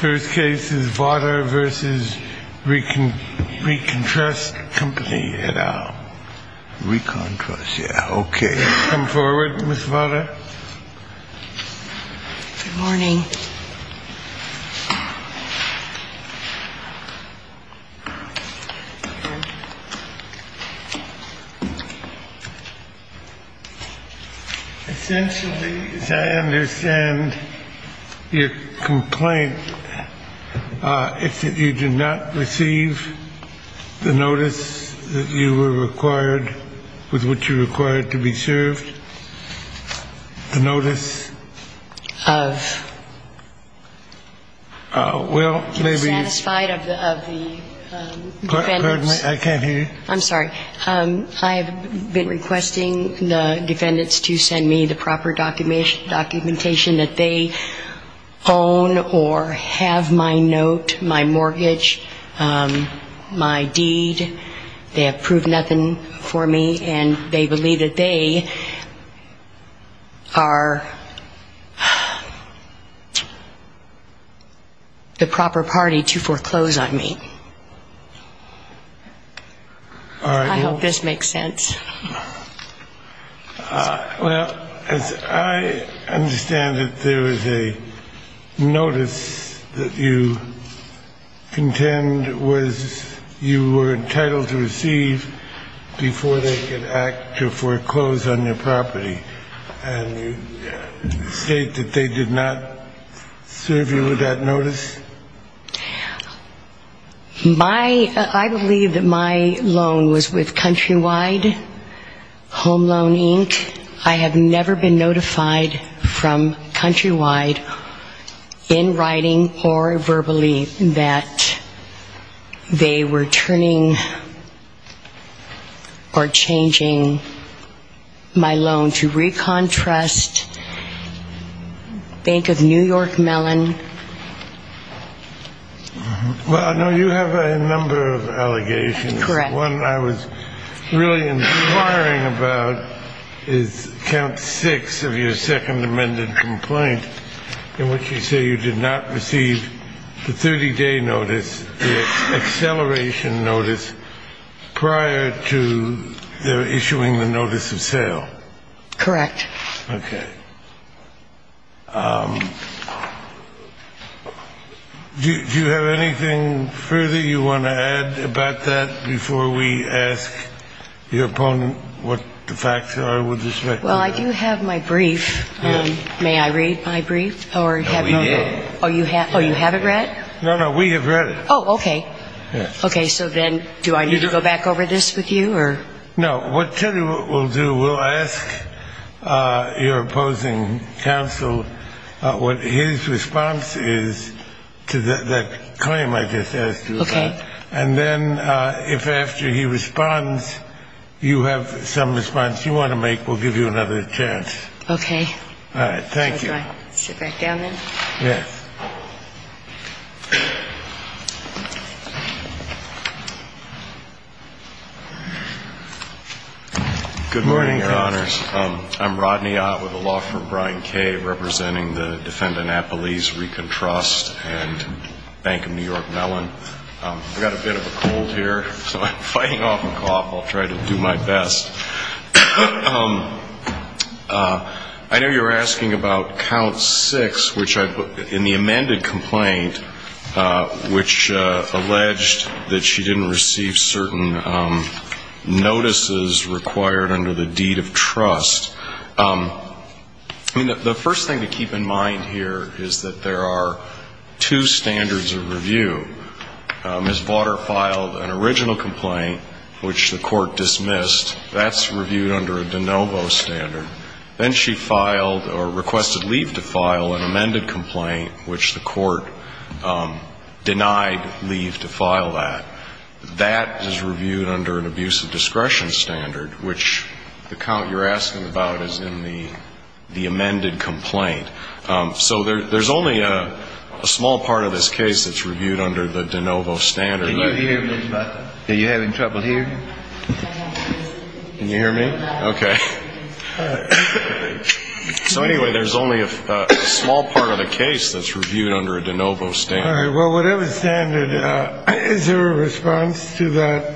First case is Vawter v. ReconTrust Company at Al. ReconTrust, yeah, okay. Come forward, Ms. Vawter. Good morning. Essentially, as I understand your complaint, it's that you did not receive the notice that you were required, with which you were required to be served. I received the notice of, well, maybe. Are you satisfied of the defendants? I can't hear you. I'm sorry. I have been requesting the defendants to send me the proper documentation that they own or have my note, my mortgage, my deed. They have proved nothing for me, and they believe that they are the proper party to foreclose on me. I hope this makes sense. Well, as I understand it, there is a notice that you contend was you were entitled to receive before they could act to foreclose on your property. And you state that they did not serve you with that notice? I believe that my loan was with Countrywide Home Loan Inc. I have never been notified from Countrywide in writing or verbally that they were turning or changing my loan to ReconTrust, Bank of New York Mellon, Well, I know you have a number of allegations. One I was really inquiring about is count six of your Second Amendment complaint in which you say you did not receive the 30-day notice, the acceleration notice, prior to their issuing the notice of sale. Correct. Okay. Do you have anything further you want to add about that before we ask your opponent what the facts are with respect to that? Well, I do have my brief. May I read my brief? No, we did. Oh, you haven't read? No, no, we have read it. Oh, okay. Okay, so then do I need to go back over this with you? No, what Teddy will do, we'll ask your opposing counsel what his response is to that claim I just asked you about. Okay. And then if after he responds you have some response you want to make, we'll give you another chance. Okay. All right, thank you. So do I sit back down then? Yes. Good morning, Your Honors. I'm Rodney Ott with a law firm, Brian K., representing the defendant Appelese Recon Trust and Bank of New York Mellon. I've got a bit of a cold here, so I'm fighting off a cough. I'll try to do my best. I know you were asking about count six, which I put in the amended complaint, which alleged that she didn't receive certain notices required under the deed of trust. I mean, the first thing to keep in mind here is that there are two standards of review. Ms. Vauder filed an original complaint, which the court dismissed. That's reviewed under a de novo standard. Then she filed or requested leave to file an amended complaint, which the court denied leave to file that. That is reviewed under an abuse of discretion standard, which the count you're asking about is in the amended complaint. So there's only a small part of this case that's reviewed under the de novo standard. Are you having trouble hearing? Can you hear me? Okay. So anyway, there's only a small part of the case that's reviewed under a de novo standard. Well, whatever standard, is there a response to that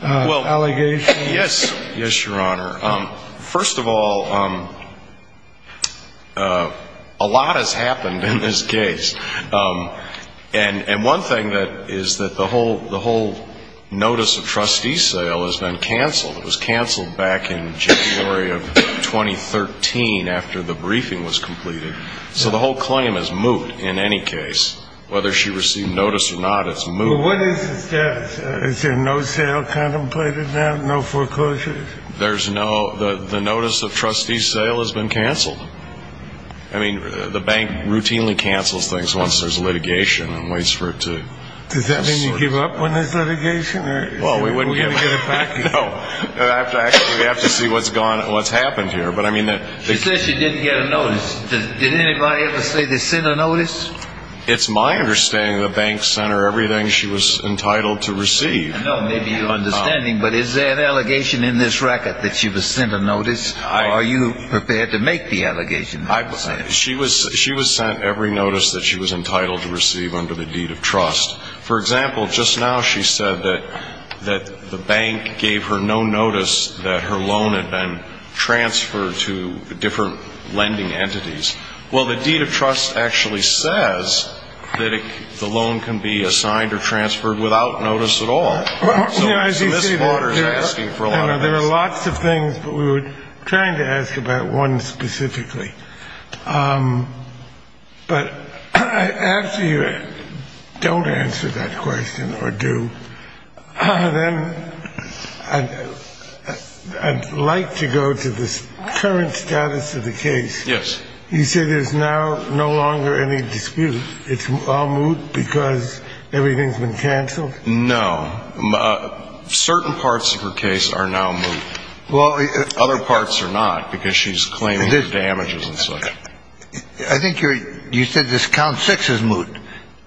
allegation? Yes. Yes, Your Honor. First of all, a lot has happened in this case. And one thing is that the whole notice of trustee sale has been canceled. It was canceled back in January of 2013 after the briefing was completed. So the whole claim is moot in any case. Whether she received notice or not, it's moot. Well, what is the status? Is there no sale contemplated now, no foreclosures? There's no. The notice of trustee sale has been canceled. I mean, the bank routinely cancels things once there's litigation and waits for it to sort through. Does that mean you give up when there's litigation? Well, we wouldn't give up. We're going to get it back. No. We have to see what's happened here. She says she didn't get a notice. Did anybody ever say they sent a notice? It's my understanding the bank sent her everything she was entitled to receive. No, maybe your understanding, but is there an allegation in this record that she was sent a notice? Are you prepared to make the allegation? She was sent every notice that she was entitled to receive under the deed of trust. For example, just now she said that the bank gave her no notice that her loan had been transferred to different lending entities. Well, the deed of trust actually says that the loan can be assigned or transferred without notice at all. So Ms. Waters is asking for a lot of this. There are lots of things, but we were trying to ask about one specifically. But after you don't answer that question or do, then I'd like to go to the current status of the case. Yes. You said there's now no longer any dispute. It's all moot because everything's been canceled. No. Certain parts of her case are now moot. Other parts are not because she's claiming damages and such. I think you said this count six is moot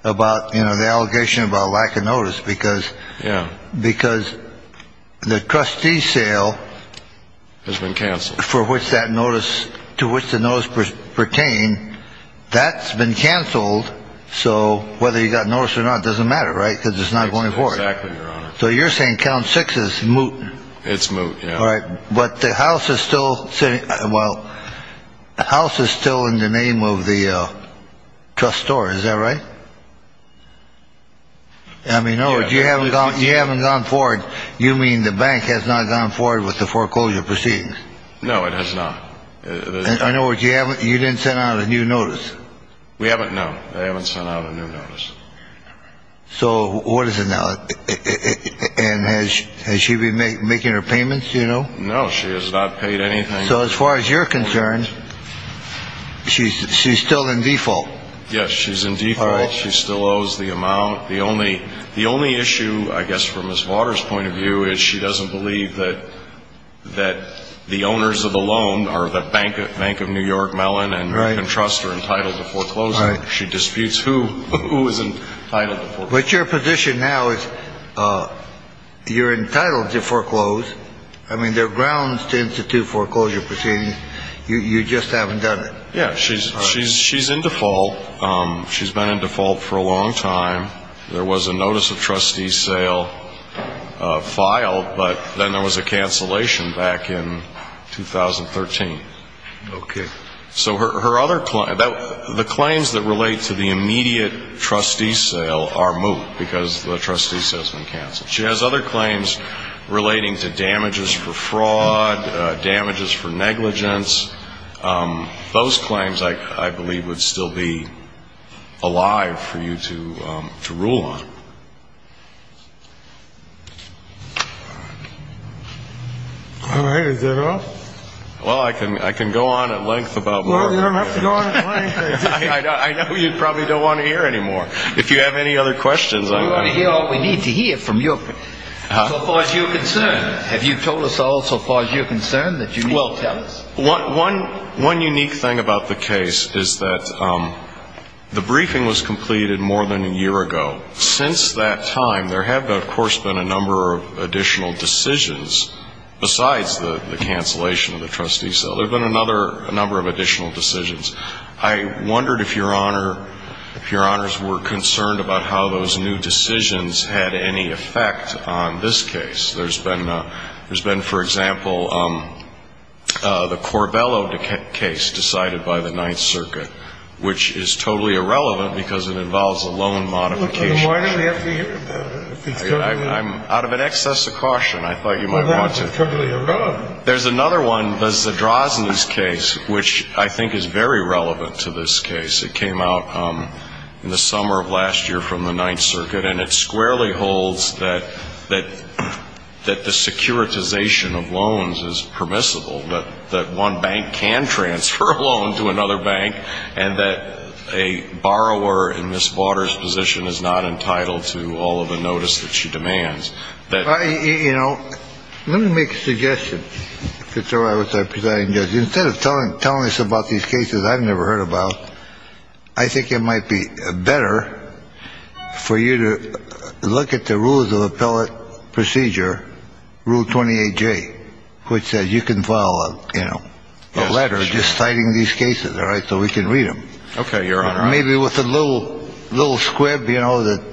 about the allegation about lack of notice because the trustee sale has been canceled. For which that notice to which the notice pertain. That's been canceled. So whether you got notice or not doesn't matter. Right. Because it's not going forward. So you're saying count six is moot. It's moot. All right. But the house is still sitting. Well, the house is still in the name of the trust store. Is that right? I mean, no, you haven't gone. You haven't gone forward. You mean the bank has not gone forward with the foreclosure proceedings? No, it has not. In other words, you didn't send out a new notice. We haven't, no. They haven't sent out a new notice. So what is it now? And has she been making her payments, do you know? No, she has not paid anything. So as far as you're concerned, she's still in default. Yes, she's in default. She still owes the amount. The only issue, I guess, from Ms. Vaughter's point of view is she doesn't believe that the owners of the loan are the Bank of New York Mellon. And you can trust her entitled to foreclosure. She disputes who is entitled to foreclosure. But your position now is you're entitled to foreclose. I mean, there are grounds to institute foreclosure proceedings. You just haven't done it. Yeah, she's in default. She's been in default for a long time. There was a notice of trustee sale filed, but then there was a cancellation back in 2013. Okay. So her other claim, the claims that relate to the immediate trustee sale are moot because the trustee sale has been canceled. She has other claims relating to damages for fraud, damages for negligence. Those claims, I believe, would still be alive for you to rule on. All right. Is that all? Well, I can go on at length about more. Well, you don't have to go on at length. I know you probably don't want to hear any more. If you have any other questions. We want to hear all we need to hear from you as far as you're concerned. Have you told us all so far as you're concerned that you need to tell us? One unique thing about the case is that the briefing was completed more than a year ago. Since that time, there have, of course, been a number of additional decisions besides the cancellation of the trustee sale. There have been a number of additional decisions. I wondered if your honors were concerned about how those new decisions had any effect on this case. There's been, for example, the Corbello case decided by the Ninth Circuit, which is totally irrelevant because it involves a loan modification. Why don't we have to hear about it? I'm out of an excess of caution. I thought you might want to. Well, that's totally irrelevant. There's another one, the Zadrozny's case, which I think is very relevant to this case. It came out in the summer of last year from the Ninth Circuit. And it squarely holds that that that the securitization of loans is permissible, that that one bank can transfer a loan to another bank and that a borrower in Miss Waters position is not entitled to all of the notice that she demands. You know, let me make a suggestion. So I was a presiding judge instead of telling telling us about these cases I've never heard about. I think it might be better for you to look at the rules of appellate procedure. Rule 28 J, which says you can file a letter just citing these cases. All right. So we can read them. Okay. Maybe with a little little squib, you know, that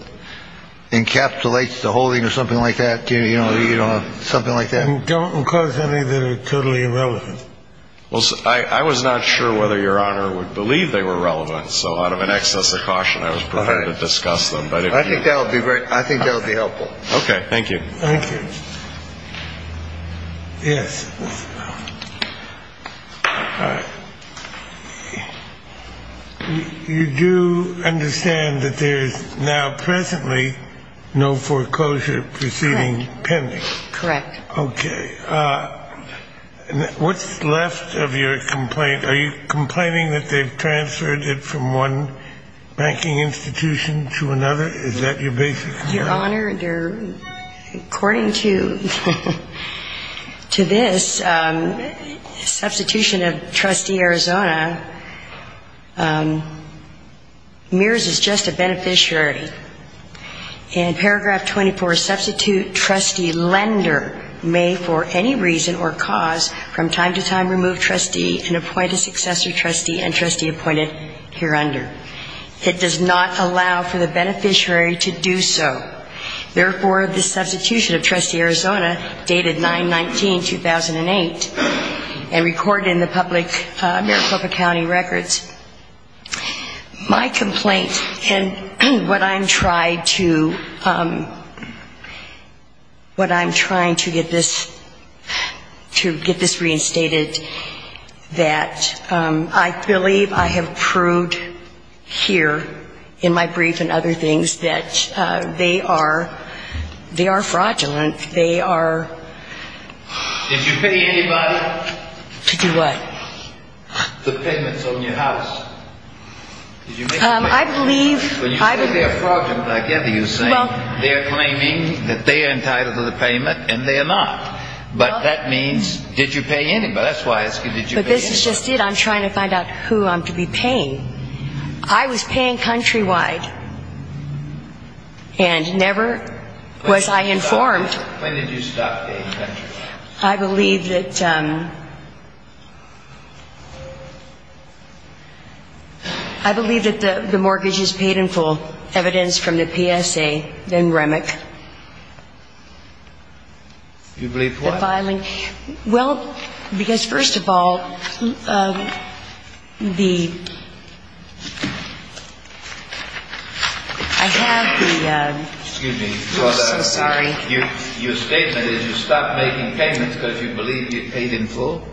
encapsulates the holding or something like that. You know, something like that. Don't cause any that are totally irrelevant. Well, I was not sure whether Your Honor would believe they were relevant. So out of an excess of caution, I was prepared to discuss them. But I think that would be great. I think that would be helpful. Okay. Thank you. Thank you. Yes. You do understand that there is now presently no foreclosure proceeding pending. Correct. Okay. What's left of your complaint? Are you complaining that they've transferred it from one banking institution to another? Your Honor, according to this substitution of trustee Arizona, Mears is just a beneficiary. And paragraph 24, substitute trustee lender may for any reason or cause from time to time remove trustee and appoint a successor trustee and trustee appointed here under. It does not allow for the beneficiary to do so. Therefore, this substitution of trustee Arizona dated 9-19-2008 and recorded in the public Maricopa County records. My complaint and what I'm trying to get this reinstated, that I believe I have proved here in my brief and other things that they are fraudulent. Did you pay anybody? To do what? The payments on your house. I believe. You say they are fraudulent. I gather you're saying they are claiming that they are entitled to the payment and they are not. But that means, did you pay anybody? That's why I ask you, did you pay anybody? But this is just it. I'm trying to find out who I'm to be paying. I was paying countrywide and never was I informed. When did you stop paying countrywide? I believe that the mortgage is paid in full, evidence from the PSA, then REMIC. You believe what? Well, because first of all, the, I have the, I'm so sorry. Your statement is you stopped making payments because you believe you paid in full?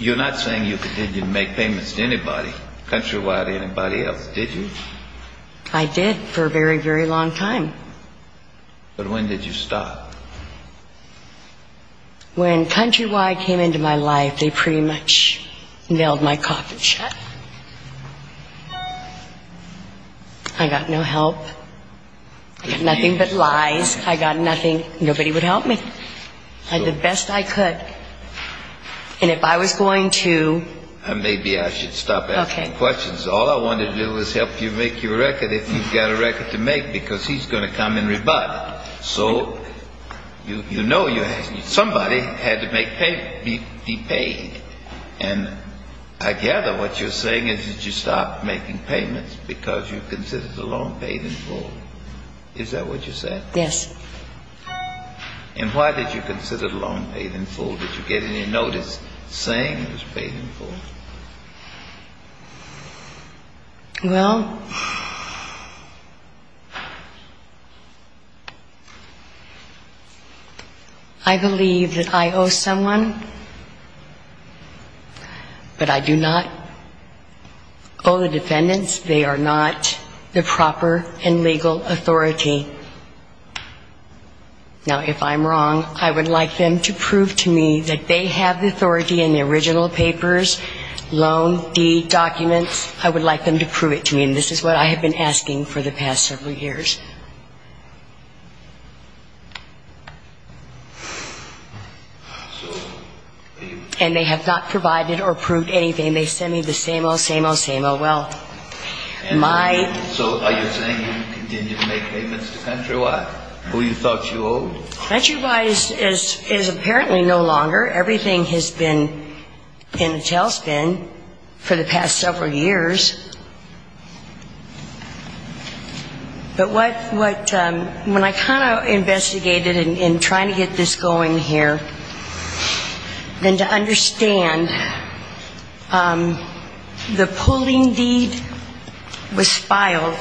You're not saying you continue to make payments to anybody, countrywide or anybody else, did you? I did for a very, very long time. But when did you stop? When countrywide came into my life, they pretty much nailed my coffin shut. I got no help. Nothing but lies. I got nothing. Nobody would help me. I did the best I could. And if I was going to. Maybe I should stop asking questions. All I want to do is help you make your record if you've got a record to make because he's going to come and rebut. So you know somebody had to make payments, be paid. And I gather what you're saying is that you stopped making payments because you considered the loan paid in full. Is that what you said? Yes. And why did you consider the loan paid in full? Did you get any notice saying it was paid in full? Well, I believe that I owe someone, but I do not owe the defendants. They are not the proper and legal authority. Now, if I'm wrong, I would like them to prove to me that they have the authority in the original papers loan, deed, documents, I would like them to prove it to me. And this is what I have been asking for the past several years. And they have not provided or proved anything. They send me the same old, same old, same old. Well, my. So are you saying you continue to make payments to Countrywide who you thought you owed? Well, Countrywide is apparently no longer. Everything has been in a tailspin for the past several years. But what, when I kind of investigated in trying to get this going here, then to understand, the pooling deed was filed,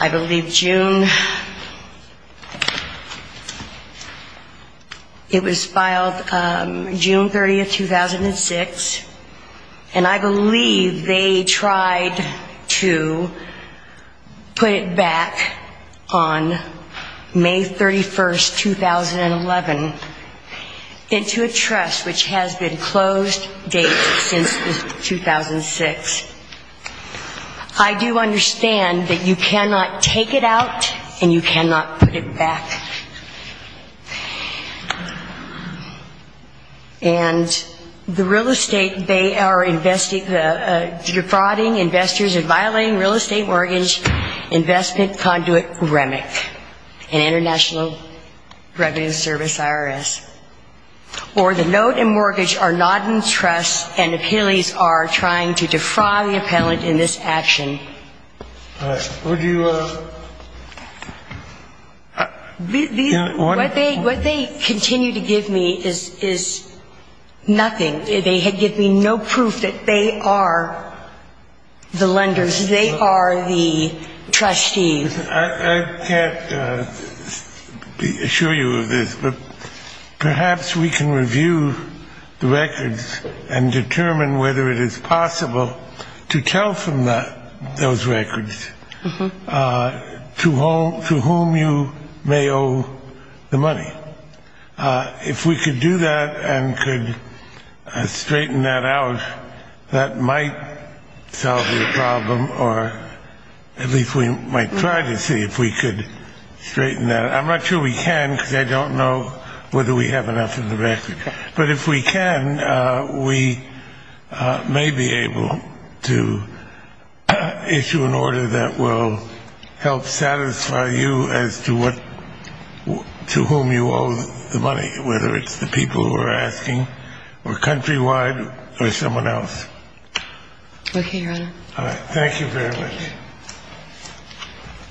I believe June, it was filed June 30th, 2006. And I believe they tried to put it back on May 31st, 2011, into a trust which has been closed date since 2006. I do understand that you cannot take it out and you cannot put it back. And the real estate, they are defrauding investors and violating real estate mortgage investment conduit REMIC, an international revenue service IRS. Or the note and mortgage are not in trust and appellees are trying to defraud the appellant in this action. What they continue to give me is nothing. They give me no proof that they are the lenders, they are the trustees. I can't assure you of this, but perhaps we can review the records and determine whether it is possible to tell from those records to whom you may owe the money. If we could do that and could straighten that out, that might solve the problem, or at least we might try to see if we could straighten that out. I'm not sure we can because I don't know whether we have enough in the record. But if we can, we may be able to issue an order that will help satisfy you as to whom you owe the money, whether it's the people who are asking or countrywide or someone else. Okay, Your Honor. All right. Thank you very much.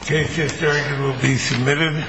The case is adjourned and will be submitted.